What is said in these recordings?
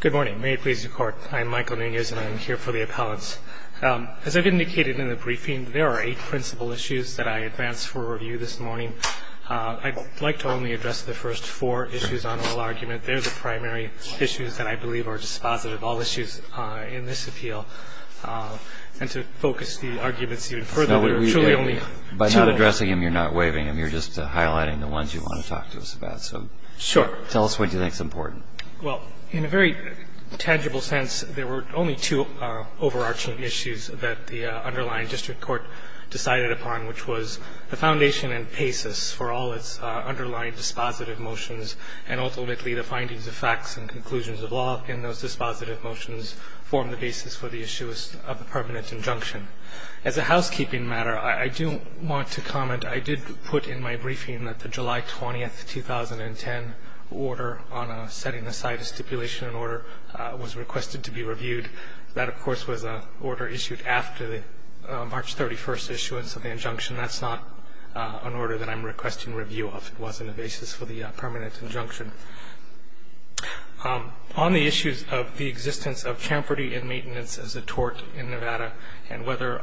Good morning. May it please the Court, I'm Michael Nunez and I'm here for the appellants. As I've indicated in the briefing, there are eight principal issues that I advance for review this morning. I'd like to only address the first four issues on oral argument. They're the primary issues that I believe are dispositive, all issues in this appeal. And to focus the arguments even further, there are truly only two. By not addressing them, you're not waiving them. You're just highlighting the ones you want to talk to us about. Sure. Tell us what you think is important. Well, in a very tangible sense, there were only two overarching issues that the underlying district court decided upon, which was the foundation and basis for all its underlying dispositive motions, and ultimately the findings of facts and conclusions of law in those dispositive motions formed the basis for the issue of the permanent injunction. As a housekeeping matter, I do want to comment. I did put in my briefing that the July 20, 2010, order on setting aside a stipulation and order was requested to be reviewed. That, of course, was an order issued after the March 31st issuance of the injunction. That's not an order that I'm requesting review of. It wasn't a basis for the permanent injunction. On the issues of the existence of chamferty and maintenance as a tort in Nevada and whether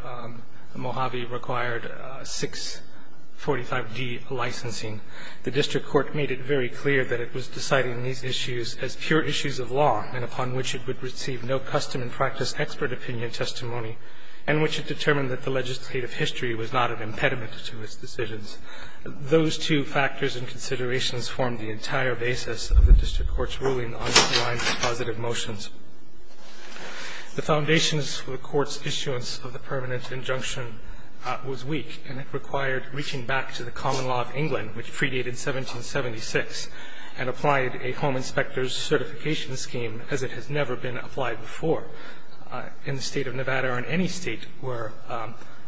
Mojave required 645D licensing, the district court made it very clear that it was deciding these issues as pure issues of law and upon which it would receive no custom and practice expert opinion testimony and which it determined that the legislative history was not an impediment to its decisions. Those two factors and considerations formed the entire basis of the district court's ruling on the underlying dispositive motions. The foundations for the court's issuance of the permanent injunction was weak, and it required reaching back to the common law of England, which predated 1776, and applied a home inspector's certification scheme as it has never been applied before in the State of Nevada or in any State where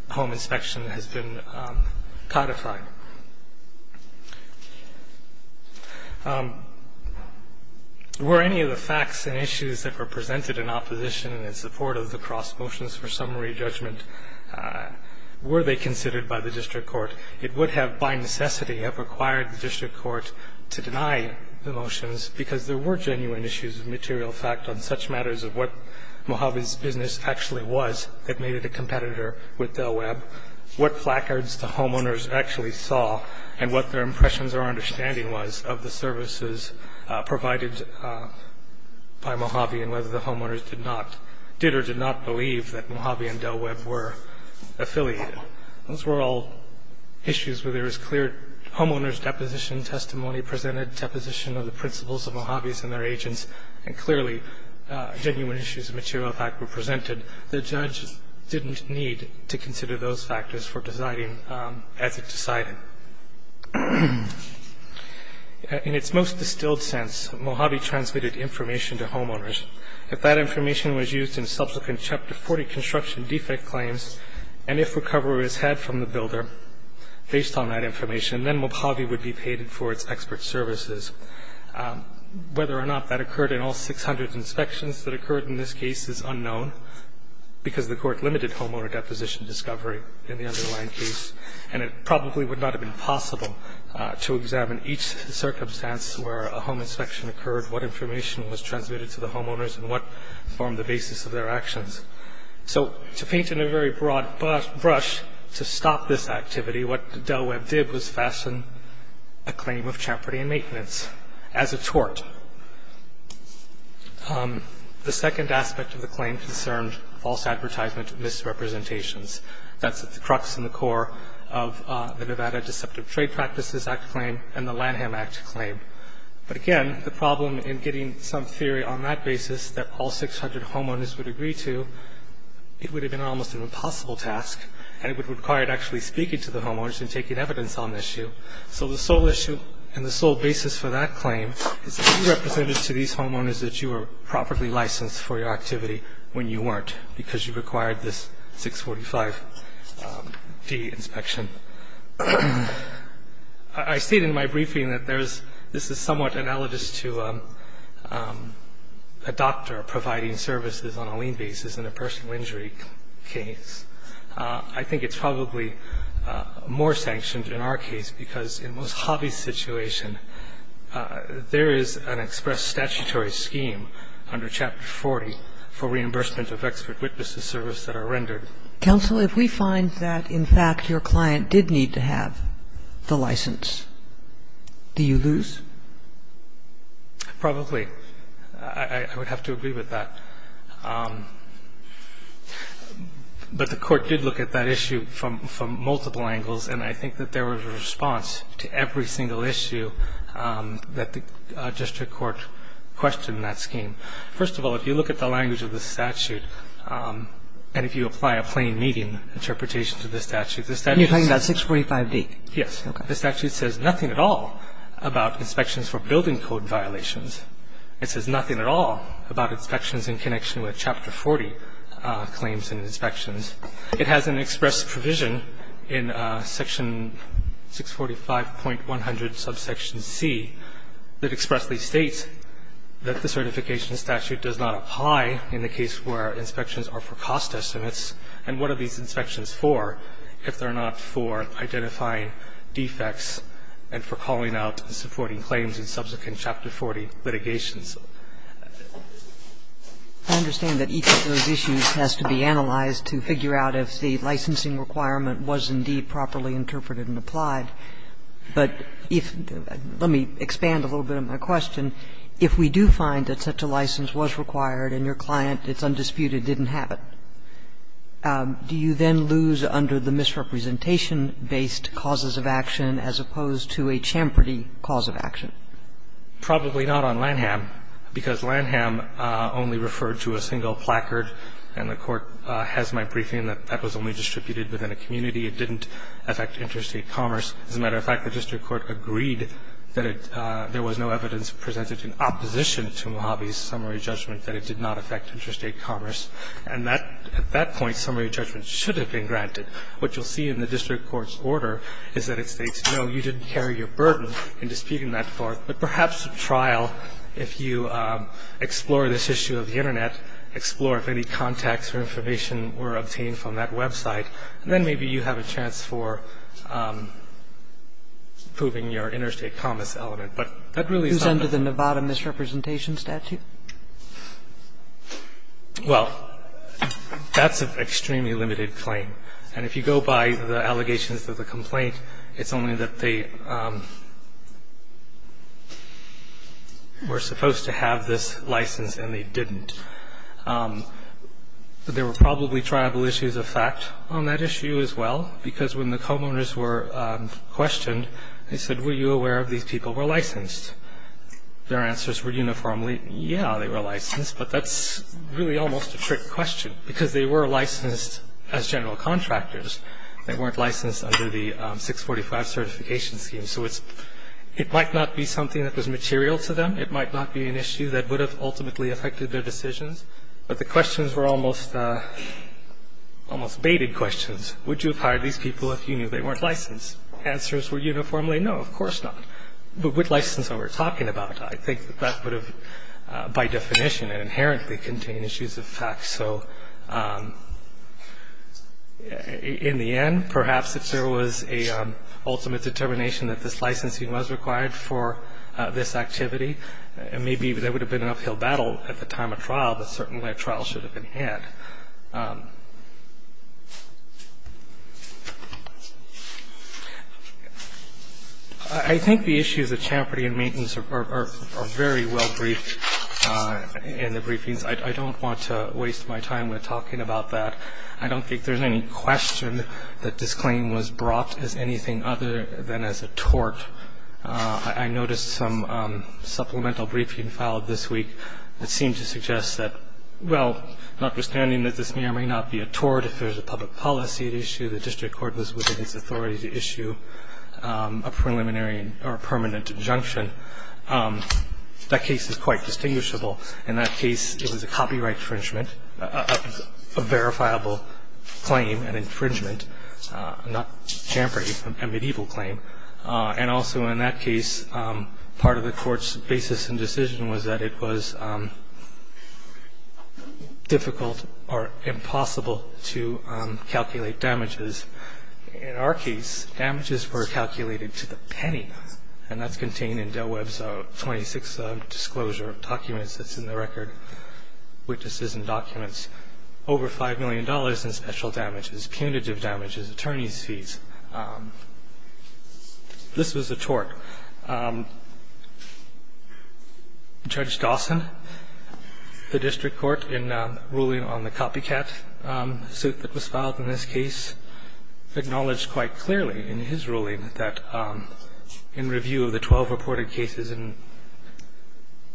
home inspection has been codified. Were any of the facts and issues that were presented in opposition in support of the cross motions for summary judgment, were they considered by the district court? It would have, by necessity, have required the district court to deny the motions because there were genuine issues of material fact on such matters of what Mojave's business actually was that made it a competitor with Del Webb. I don't know what placards the homeowners actually saw and what their impressions or understanding was of the services provided by Mojave and whether the homeowners did not, did or did not believe that Mojave and Del Webb were affiliated. Those were all issues where there was clear homeowners' deposition testimony, presented deposition of the principles of Mojave's and their agents, and clearly genuine issues of material fact were presented. The judge didn't need to consider those factors for deciding as it decided. In its most distilled sense, Mojave transmitted information to homeowners. If that information was used in subsequent Chapter 40 construction defect claims, and if recovery was had from the builder based on that information, then Mojave would be paid for its expert services. Whether or not that occurred in all 600 inspections that occurred in this case is unknown because the court limited homeowner deposition discovery in the underlying case, and it probably would not have been possible to examine each circumstance where a home inspection occurred, what information was transmitted to the homeowners, and what formed the basis of their actions. So to paint in a very broad brush, to stop this activity, what Del Webb did was fashion a claim of chaperty and maintenance as a tort. The second aspect of the claim concerned false advertisement and misrepresentations. That's at the crux and the core of the Nevada Deceptive Trade Practices Act claim and the Lanham Act claim. But again, the problem in getting some theory on that basis that all 600 homeowners would agree to, it would have been almost an impossible task, and it would require actually speaking to the homeowners and taking evidence on the issue. So the sole issue and the sole basis for that claim is that you represented to these homeowners that you were properly licensed for your activity when you weren't, because you required this 645D inspection. I state in my briefing that this is somewhat analogous to a doctor providing services on a lien basis in a personal injury case. I think it's probably more sanctioned in our case because in Ms. Hobby's situation, there is an express statutory scheme under Chapter 40 for reimbursement of expert witnesses' service that are rendered. Kagan. Counsel, if we find that in fact your client did need to have the license, do you lose? Probably. I would have to agree with that. But the Court did look at that issue from multiple angles, and I think that there was a response to every single issue that the district court questioned in that scheme. First of all, if you look at the language of the statute, and if you apply a plain medium interpretation to the statute, the statute says that You're talking about 645D? Yes. The statute says nothing at all about inspections for building code violations. It says nothing at all about inspections in connection with Chapter 40 claims and inspections. It has an express provision in Section 645.100 subsection C that expressly states that the certification statute does not apply in the case where inspections are for cost estimates. And what are these inspections for if they're not for identifying defects and for calling out supporting claims in subsequent Chapter 40 litigations? I understand that each of those issues has to be analyzed to figure out if the licensing requirement was indeed properly interpreted and applied. But if you do, let me expand a little bit on my question. If we do find that such a license was required and your client, it's undisputed, didn't have it, do you then lose under the misrepresentation-based causes of action as opposed to a champerty cause of action? Probably not on Lanham, because Lanham only referred to a single placard, and the Court has my briefing that that was only distributed within a community. It didn't affect interstate commerce. As a matter of fact, the district court agreed that it – there was no evidence presented in opposition to Mojave's summary judgment that it did not affect interstate commerce. And that – at that point, summary judgment should have been granted. What you'll see in the district court's order is that it states, no, you didn't carry your burden in disputing that court. But perhaps at trial, if you explore this issue of the Internet, explore if any contacts or information were obtained from that website, and then maybe you have a chance for proving your interstate commerce element. But that really is not the case. Who's under the Nevada misrepresentation statute? Well, that's an extremely limited claim. And if you go by the allegations of the complaint, it's only that they were supposed to have this license and they didn't. There were probably tribal issues of fact on that issue as well, because when the co-owners were questioned, they said, were you aware these people were licensed? Their answers were uniformly, yes. They were licensed, but that's really almost a trick question, because they were licensed as general contractors. They weren't licensed under the 645 certification scheme. So it might not be something that was material to them. It might not be an issue that would have ultimately affected their decisions. But the questions were almost baited questions. Would you have hired these people if you knew they weren't licensed? Answers were uniformly, no, of course not. With license that we're talking about, I think that that would have, by definition, inherently contained issues of fact. So in the end, perhaps if there was an ultimate determination that this licensing was required for this activity, maybe there would have been an uphill battle at the time of trial, but certainly a trial should have been had. I think the issues of champerty and maintenance are very well briefed in the briefings. I don't want to waste my time with talking about that. I don't think there's any question that this claim was brought as anything other than as a tort. I noticed some supplemental briefing filed this week that seemed to suggest that, well, notwithstanding that this may or may not be a tort if there's a public policy at issue, the district court was within its authority to issue a preliminary or permanent injunction. That case is quite distinguishable. In that case, it was a copyright infringement, a verifiable claim, an infringement, not champerty, a medieval claim. And also in that case, part of the court's basis and decision was that it was difficult or impossible to calculate damages. In our case, damages were calculated to the penny, and that's contained in Del Webb's 26 disclosure documents that's in the record, witnesses and documents, over $5 million in special damages, punitive damages, attorneys' fees. This was a tort. Judge Dawson, the district court, in ruling on the copycat suit that was filed in this case, acknowledged quite clearly in his ruling that in review of the 12 reported cases in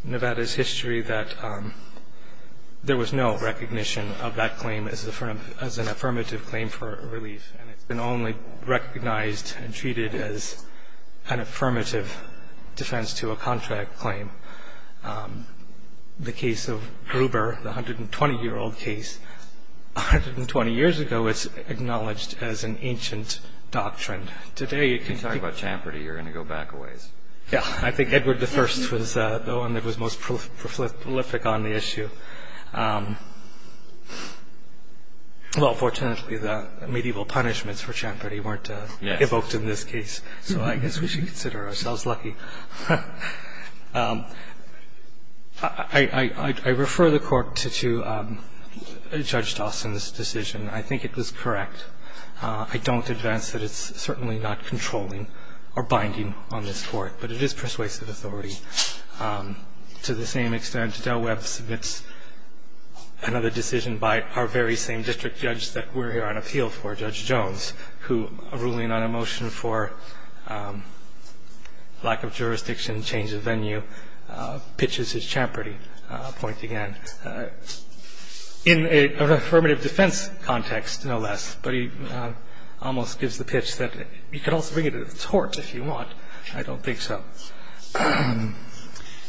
Nevada's history that there was no recognition of that claim as an affirmative claim for relief. And it's been only recognized and treated as an affirmative defense to a contract claim. The case of Gruber, the 120-year-old case, 120 years ago it's acknowledged as an ancient doctrine. Today it can be ---- You talk about champerty, you're going to go back a ways. Yeah. I think Edward I was the one that was most prolific on the issue. Well, fortunately, the medieval punishments for champerty weren't evoked in this case. So I guess we should consider ourselves lucky. I refer the Court to Judge Dawson's decision. I think it was correct. I don't advance that it's certainly not controlling or binding on this Court. But it is persuasive authority. To the same extent, Del Webb submits another decision by our very same district judge that we're here on appeal for, Judge Jones, who, ruling on a motion for lack of jurisdiction, change of venue, pitches his champerty point again. In an affirmative defense context, no less. But he almost gives the pitch that you can also bring it to the court if you want. I don't think so.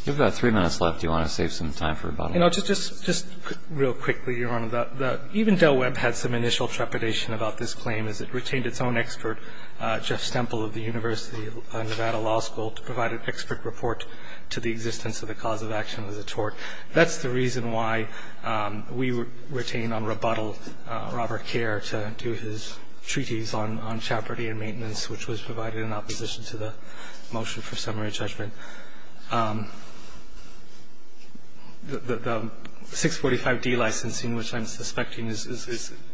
You have about three minutes left. Do you want to save some time for a bottle of water? Just real quickly, Your Honor, even Del Webb had some initial trepidation about this claim as it retained its own expert, Jeff Stemple of the University of Nevada Law School, to provide an expert report to the existence of the cause of action of the tort. That's the reason why we retain on rebuttal Robert Kerr to do his treaties on champerty and maintenance, which was provided in opposition to the motion for summary judgment. The 645D licensing, which I'm suspecting is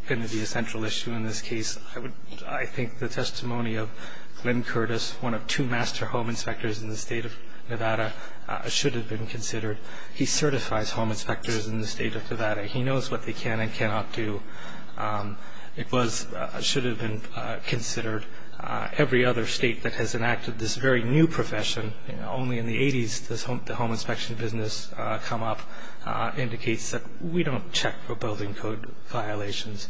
going to be a central issue in this case, I think the testimony of Glenn Curtis, one of two master home inspectors in the state of Nevada, should have been considered. He certifies home inspectors in the state of Nevada. He knows what they can and cannot do. It should have been considered. Every other state that has enacted this very new profession, only in the 80s did the home inspection business come up, indicates that we don't check for building code violations.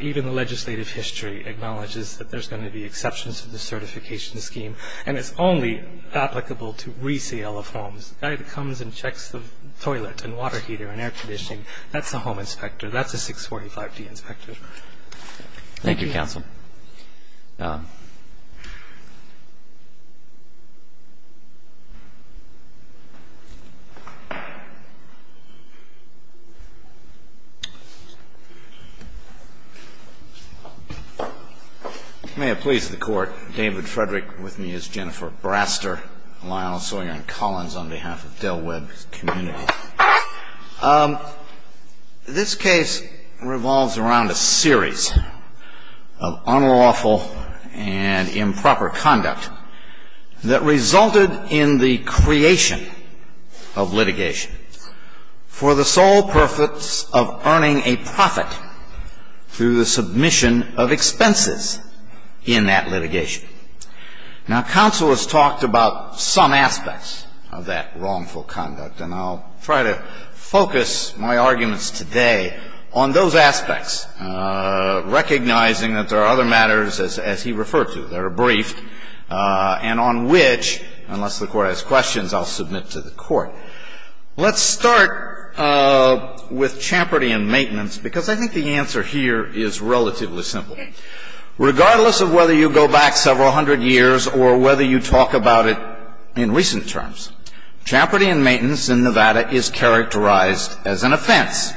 Even the legislative history acknowledges that there's going to be exceptions to the certification scheme, and it's only applicable to resale of homes. The guy that comes and checks the toilet and water heater and air conditioning, that's a home inspector. That's a 645D inspector. Thank you, counsel. May it please the Court. David Frederick with me as Jennifer Braster. Lyle Sawyer and Collins on behalf of Del Webb Community. This case revolves around a series of unlawful and improper conduct that resulted in the creation of litigation for the sole purpose of earning a profit through the submission of expenses in that litigation. Now, counsel has talked about some aspects of that wrongful conduct, and I'll try to focus my arguments today on those aspects, recognizing that there are other matters as he referred to that are brief and on which, unless the Court has questions, I'll submit to the Court. Let's start with champerty and maintenance, because I think the answer here is relatively simple. Regardless of whether you go back several hundred years or whether you talk about it in recent terms, champerty and maintenance in Nevada is characterized as an offense.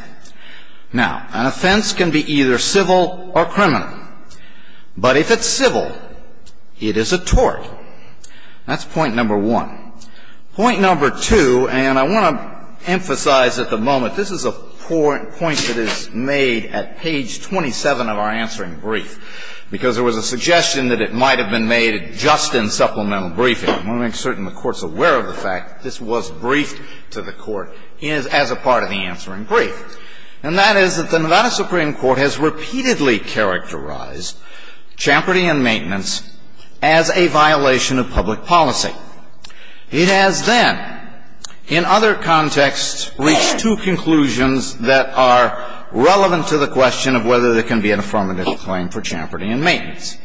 Now, an offense can be either civil or criminal. But if it's civil, it is a tort. That's point number one. Point number two, and I want to emphasize at the moment this is a point that is made at page 27 of our answering brief, because there was a suggestion that it might have been made just in supplemental briefing. I want to make certain the Court's aware of the fact that this was briefed to the Court as a part of the answering brief. And that is that the Nevada Supreme Court has repeatedly characterized champerty and maintenance as a violation of public policy. It has then, in other contexts, reached two conclusions that are relevant to the question of whether there can be an affirmative claim for champerty and maintenance.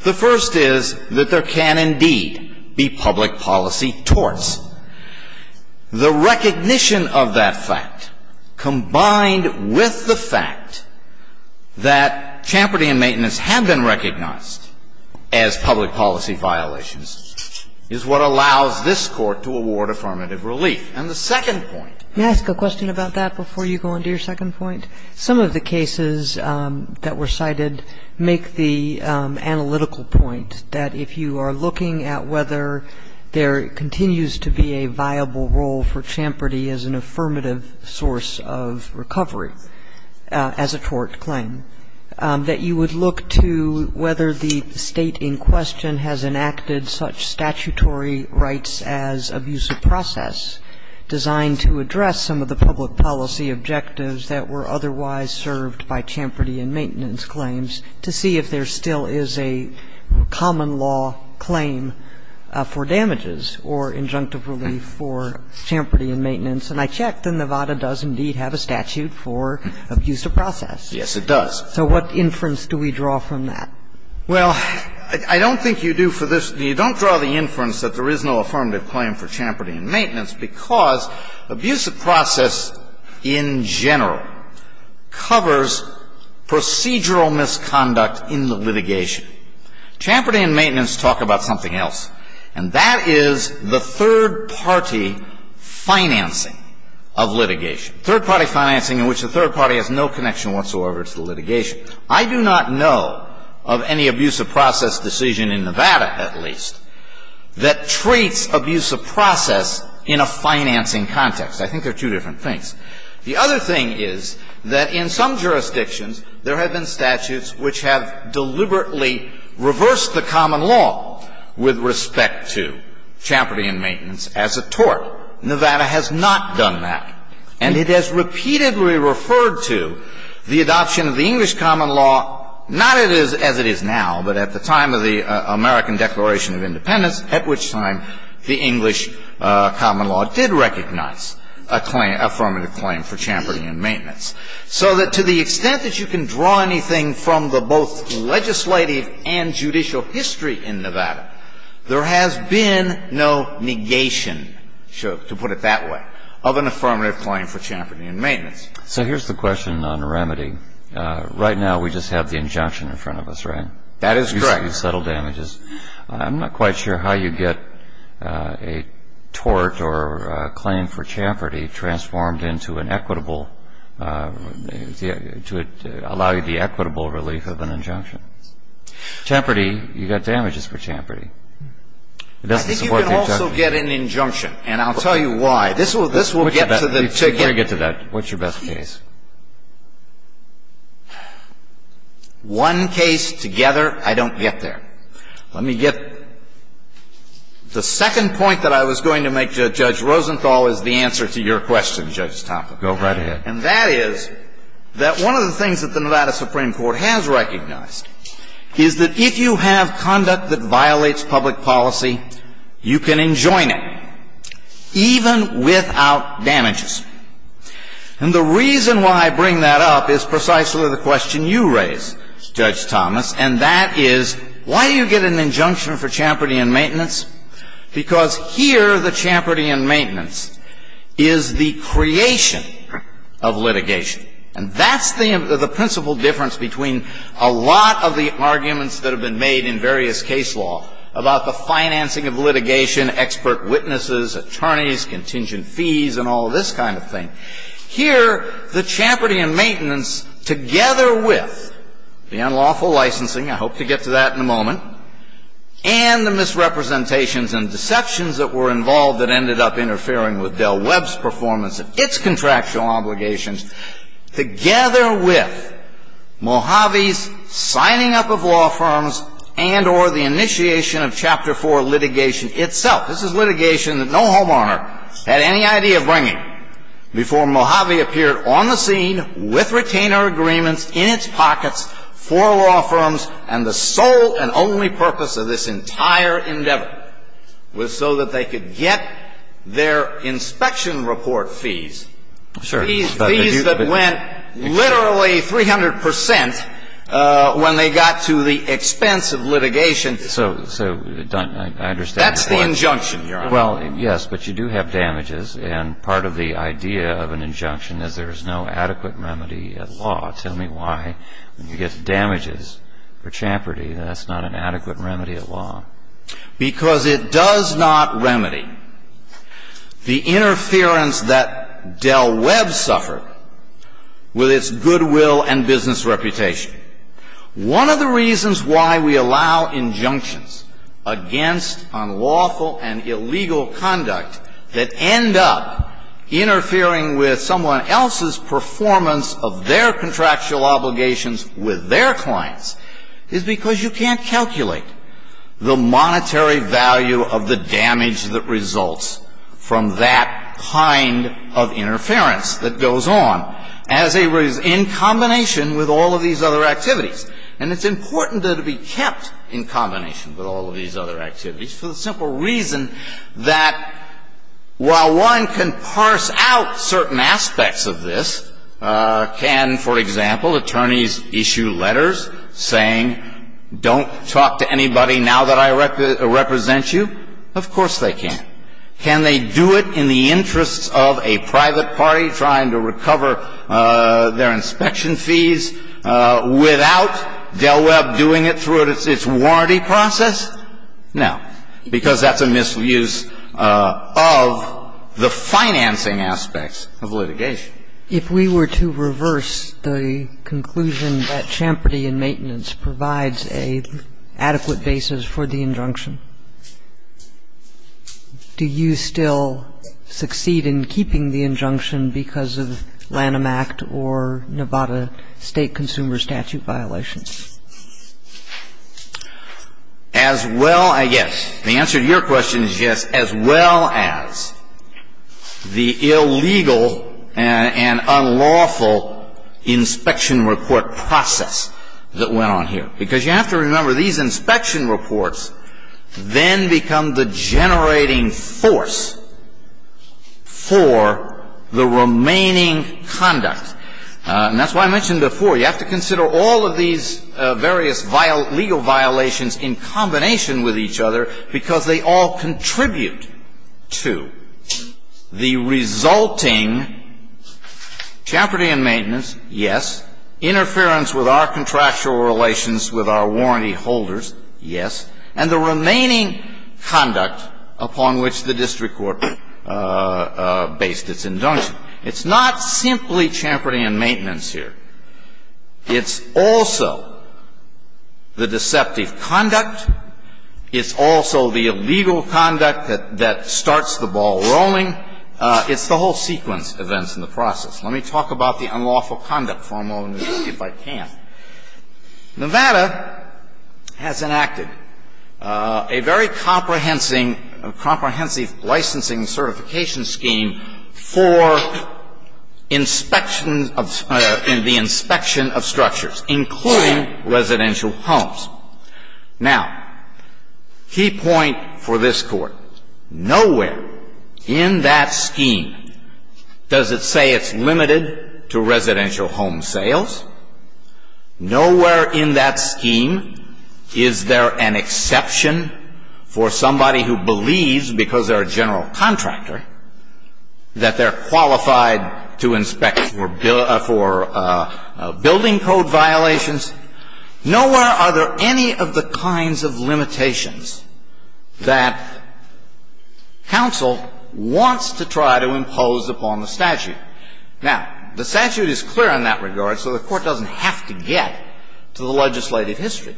The first is that there can indeed be public policy torts. The recognition of that fact, combined with the fact that champerty and maintenance have been recognized as public policy violations, is what allows this Court to award affirmative relief. And the second point. Kagan. May I ask a question about that before you go on to your second point? Some of the cases that were cited make the analytical point that if you are looking at whether there continues to be a viable role for champerty as an affirmative source of recovery as a tort claim, that you would look to whether the State in question has enacted such statutory rights as abusive process designed to address some of the otherwise served by champerty and maintenance claims to see if there still is a common law claim for damages or injunctive relief for champerty and maintenance. And I checked, and Nevada does indeed have a statute for abusive process. Yes, it does. So what inference do we draw from that? Well, I don't think you do for this. You don't draw the inference that there is no affirmative claim for champerty and maintenance because abusive process in general covers procedural misconduct in the litigation. Champerty and maintenance talk about something else, and that is the third-party financing of litigation, third-party financing in which the third party has no connection whatsoever to the litigation. I do not know of any abusive process decision in Nevada, at least, that treats abusive process in a financing context. I think they're two different things. The other thing is that in some jurisdictions there have been statutes which have deliberately reversed the common law with respect to champerty and maintenance as a tort. Nevada has not done that. And it has repeatedly referred to the adoption of the English common law, not as it is now, but at the time of the American Declaration of Independence, at which time the English common law did recognize a claim, affirmative claim for champerty and maintenance. So that to the extent that you can draw anything from the both legislative and judicial history in Nevada, there has been no negation, to put it that way, of an affirmative claim for champerty and maintenance. So here's the question on remedy. Right now we just have the injunction in front of us, right? That is correct. You settle damages. I'm not quite sure how you get a tort or a claim for champerty transformed into an equitable, to allow you the equitable relief of an injunction. Champerty, you've got damages for champerty. I think you can also get an injunction, and I'll tell you why. This will get to the ticket. I'll try to get to that. What's your best case? One case together, I don't get there. Let me get the second point that I was going to make to Judge Rosenthal is the answer to your question, Judge Topper. Go right ahead. And that is that one of the things that the Nevada Supreme Court has recognized is that if you have conduct that violates public policy, you can enjoin it, even without damages. And the reason why I bring that up is precisely the question you raise, Judge Thomas, and that is, why do you get an injunction for champerty and maintenance? Because here the champerty and maintenance is the creation of litigation. And that's the principle difference between a lot of the arguments that have been made in various case law about the financing of litigation, expert witnesses, attorneys, contingent fees, and all this kind of thing. Here, the champerty and maintenance, together with the unlawful licensing, I hope to get to that in a moment, and the misrepresentations and deceptions that were involved that ended up interfering with Del Webb's performance of its contractual obligations, together with Mojave's signing up of law firms and or the initiation of Chapter 4 litigation itself. This is litigation that no homeowner had any idea of bringing before Mojave appeared on the scene with retainer agreements in its pockets for law firms. And the sole and only purpose of this entire endeavor was so that they could get their inspection report fees. Fees that went literally 300 percent when they got to the expense of litigation. And so, I understand your point. That's the injunction, Your Honor. Well, yes, but you do have damages. And part of the idea of an injunction is there is no adequate remedy at law. Tell me why, when you get damages for champerty, that's not an adequate remedy at law. Because it does not remedy the interference that Del Webb suffered with its goodwill and business reputation. One of the reasons why we allow injunctions against unlawful and illegal conduct that end up interfering with someone else's performance of their contractual obligations with their clients is because you can't calculate the monetary value of the damage that results from that kind of interference that goes on. As a reason, in combination with all of these other activities, and it's important to be kept in combination with all of these other activities for the simple reason that while one can parse out certain aspects of this, can, for example, attorneys issue letters saying, don't talk to anybody now that I represent you? Of course they can. Can they do it in the interests of a private party trying to recover their inspection fees without Del Webb doing it through its warranty process? No. Because that's a misuse of the financing aspects of litigation. Kagan. If we were to reverse the conclusion that champerty and maintenance provides an adequate basis for the injunction? Do you still succeed in keeping the injunction because of Lanham Act or Nevada State Consumer Statute violations? As well, I guess, the answer to your question is yes, as well as the illegal and unlawful inspection report process that went on here. Because you have to remember, these inspection reports then become the generating force for the remaining conduct. And that's why I mentioned before, you have to consider all of these various legal violations in combination with each other because they all contribute to the resulting champerty and maintenance, yes, interference with our contractual relations with our warranty holders, yes, and the remaining conduct upon which the district court based its injunction. It's not simply champerty and maintenance here. It's also the deceptive conduct. It's also the illegal conduct that starts the ball rolling. It's the whole sequence of events in the process. Let me talk about the unlawful conduct for a moment if I can. Nevada has enacted a very comprehensive licensing certification scheme for inspection of the inspection of structures, including residential homes. Now, key point for this Court, nowhere in that scheme does it say it's limited to residential home sales. Nowhere in that scheme is there an exception for somebody who believes, because they're a general contractor, that they're qualified to inspect for building code violations. Nowhere are there any of the kinds of limitations that counsel wants to try to impose upon the statute. Now, the statute is clear in that regard, so the Court doesn't have to get to the legislative history.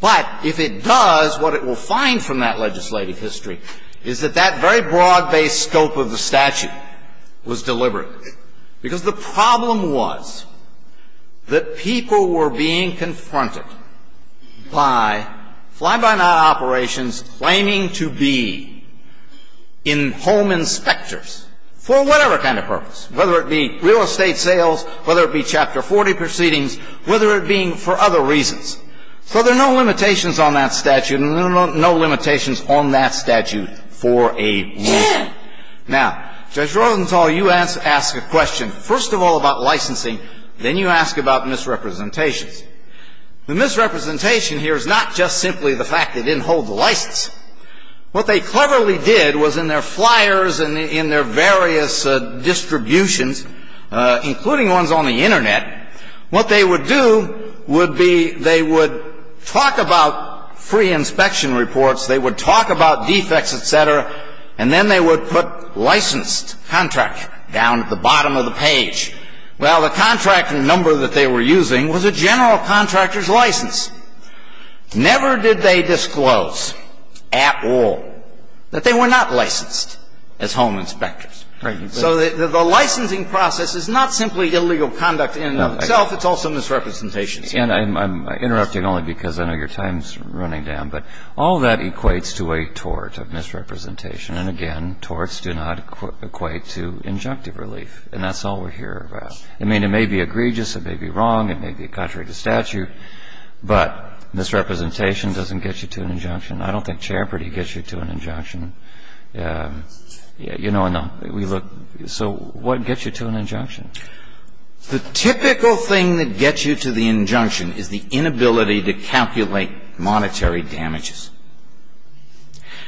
But if it does, what it will find from that legislative history is that that very broad-based scope of the statute was deliberate. Because the problem was that people were being confronted by fly-by-night operations claiming to be in-home inspectors for whatever kind of purpose, whether it be real estate sales, whether it be Chapter 40 proceedings, whether it be for other reasons. So there are no limitations on that statute and no limitations on that statute for a rule. Now, Judge Rothenthal, you ask a question first of all about licensing, then you ask about misrepresentations. The misrepresentation here is not just simply the fact they didn't hold the license. What they cleverly did was in their flyers and in their various distributions, including ones on the Internet, what they would do would be they would talk about free inspection reports, they would talk about defects, et cetera, and then they would put Well, the contract number that they were using was a general contractor's license. Never did they disclose at all that they were not licensed as home inspectors. So the licensing process is not simply illegal conduct in and of itself, it's also misrepresentations. And I'm interrupting only because I know your time's running down, but all that equates to a tort of misrepresentation. And, again, torts do not equate to injunctive relief. And that's all we're here about. I mean, it may be egregious, it may be wrong, it may be contrary to statute, but misrepresentation doesn't get you to an injunction. I don't think Champerty gets you to an injunction. You know, and we look. So what gets you to an injunction? The typical thing that gets you to the injunction is the inability to calculate monetary damages.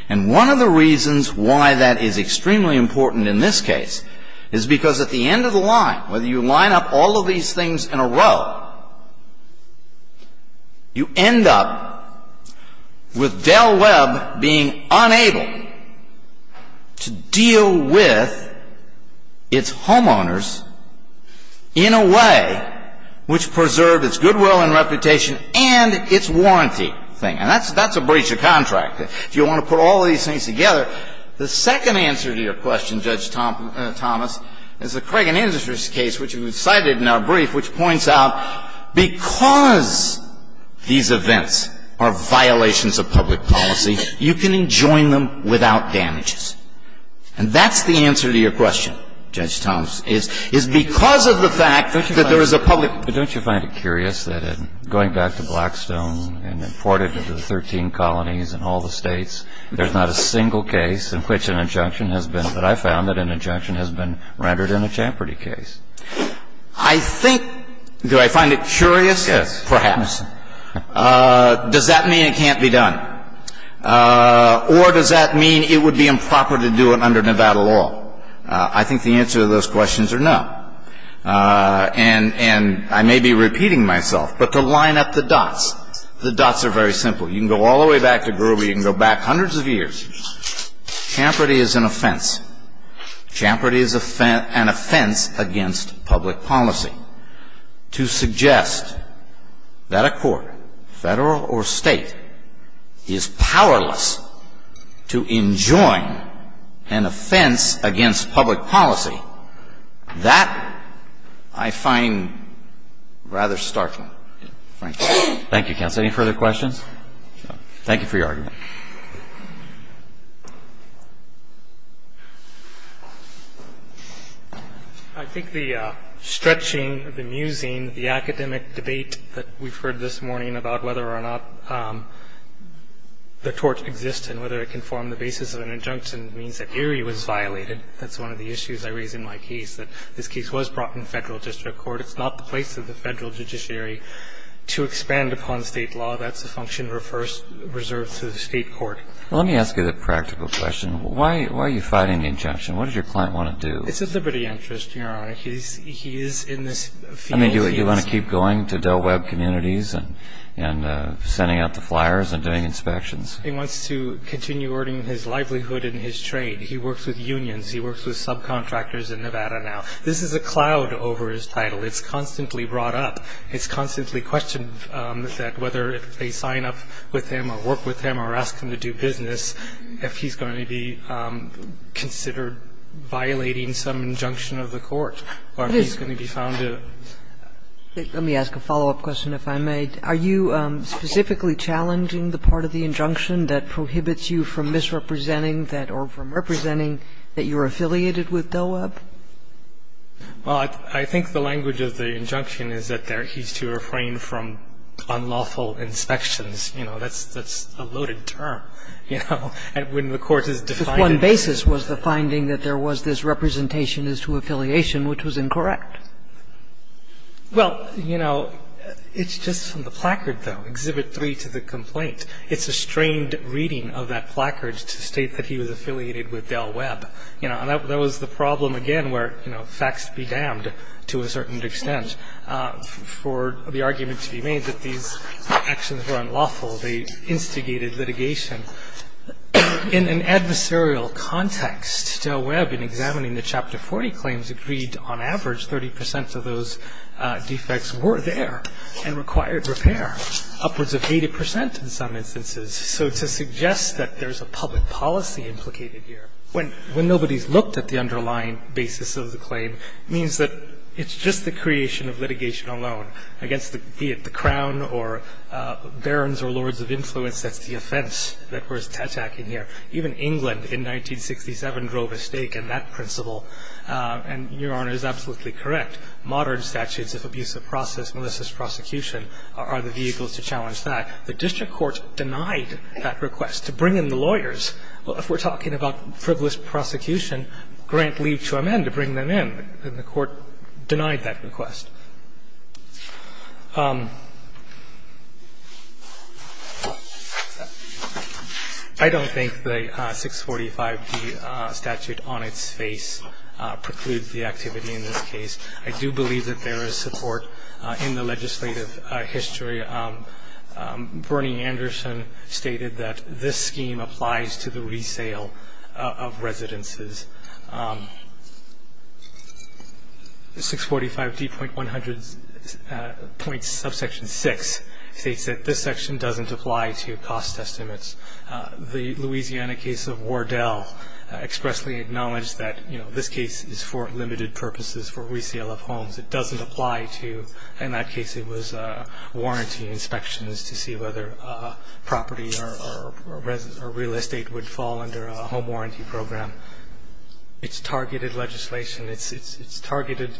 And one of the reasons why that is extremely important in this case is because at the end of the line, whether you line up all of these things in a row, you end up with Del Webb being unable to deal with its homeowners in a way which preserved its goodwill and reputation and its warranty thing. And that's a breach of contract. If you want to put all of these things together, the second answer to your question, Judge Thomas, is the Cregan Industries case, which was cited in our brief, which points out because these events are violations of public policy, you can enjoin them without damages. And that's the answer to your question, Judge Thomas, is because of the fact that there is a public policy. But don't you find it curious that in going back to Blackstone and imported into the 13 colonies in all the States, there's not a single case in which an injunction has been, that I found that an injunction has been rendered in a Champerty case? I think, do I find it curious? Yes. Perhaps. Does that mean it can't be done? Or does that mean it would be improper to do it under Nevada law? I think the answer to those questions are no. And I may be repeating myself, but to line up the dots, the dots are very simple. You can go all the way back to Groovy. You can go back hundreds of years. Champerty is an offense. Champerty is an offense against public policy. To suggest that a court, Federal or State, is powerless to enjoin an offense against public policy, that I find rather startling. Thank you. Thank you, counsel. Any further questions? Thank you for your argument. I think the stretching, the musing, the academic debate that we've heard this morning about whether or not the tort exists and whether it can form the basis of an injunction means that Erie was violated. That's one of the issues I raise in my case, that this case was brought in Federal district court. It's not the place of the Federal judiciary to expand upon State law. That's a function reserved to the State court. Let me ask you the practical question. Why are you fighting the injunction? What does your client want to do? It's a liberty interest, Your Honor. He is in this field. I mean, do you want to keep going to Del Webb communities and sending out the flyers and doing inspections? He wants to continue earning his livelihood in his trade. He works with unions. He works with subcontractors in Nevada now. This is a cloud over his title. It's constantly brought up. It's constantly questioned that whether they sign up with him or work with him or ask him to do business, if he's going to be considered violating some injunction of the court or if he's going to be found to. Let me ask a follow-up question, if I may. Are you specifically challenging the part of the injunction that prohibits you from misrepresenting that or from representing that you're affiliated with Del Webb? Well, I think the language of the injunction is that he's to refrain from unlawful inspections. You know, that's a loaded term, you know. And when the court has defined it. But one basis was the finding that there was this representation as to affiliation, which was incorrect. Well, you know, it's just from the placard, though, Exhibit 3 to the complaint. It's a strained reading of that placard to state that he was affiliated with Del Webb. You know, and that was the problem again where, you know, facts be damned to a certain extent for the argument to be made that these actions were unlawful. They instigated litigation. In an adversarial context, Del Webb, in examining the Chapter 40 claims, agreed on average 30 percent of those defects were there and required repair, upwards of 80 percent in some instances. So to suggest that there's a public policy implicated here, when nobody's looked at the underlying basis of the claim, means that it's just the creation of litigation alone against the crown or barons or lords of influence. That's the offense that we're attacking here. Even England in 1967 drove a stake in that principle. And Your Honor is absolutely correct. Modern statutes of abusive process, Melissa's prosecution, are the vehicles to challenge that. The district court denied that request to bring in the lawyers. If we're talking about frivolous prosecution, grant leave to amend to bring them in. And the court denied that request. I don't think the 645d statute on its face precludes the activity in this case. I do believe that there is support in the legislative history. Bernie Anderson stated that this scheme applies to the resale of residences. The 645d.100 subsection 6 states that this section doesn't apply to cost estimates. The Louisiana case of Wardell expressly acknowledged that, you know, this case is for limited purposes for resale of homes. It doesn't apply to, in that case it was warranty inspections to see whether property or real estate would fall under a home warranty program. It's targeted legislation. It's targeted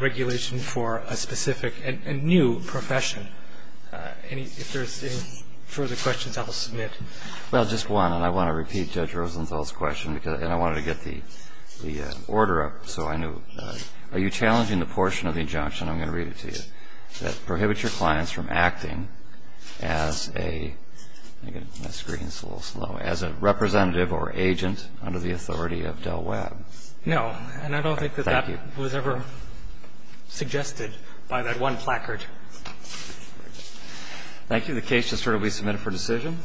regulation for a specific and new profession. If there's any further questions, I will submit. Well, just one. And I want to repeat Judge Rosenthal's question. And I wanted to get the order up so I know. Are you challenging the portion of the injunction, I'm going to read it to you, that prohibits your clients from acting as a, again, my screen is a little slow, as a representative or agent under the authority of Del Webb? No. And I don't think that that was ever suggested by that one placard. Thank you. The case is currently submitted for decision.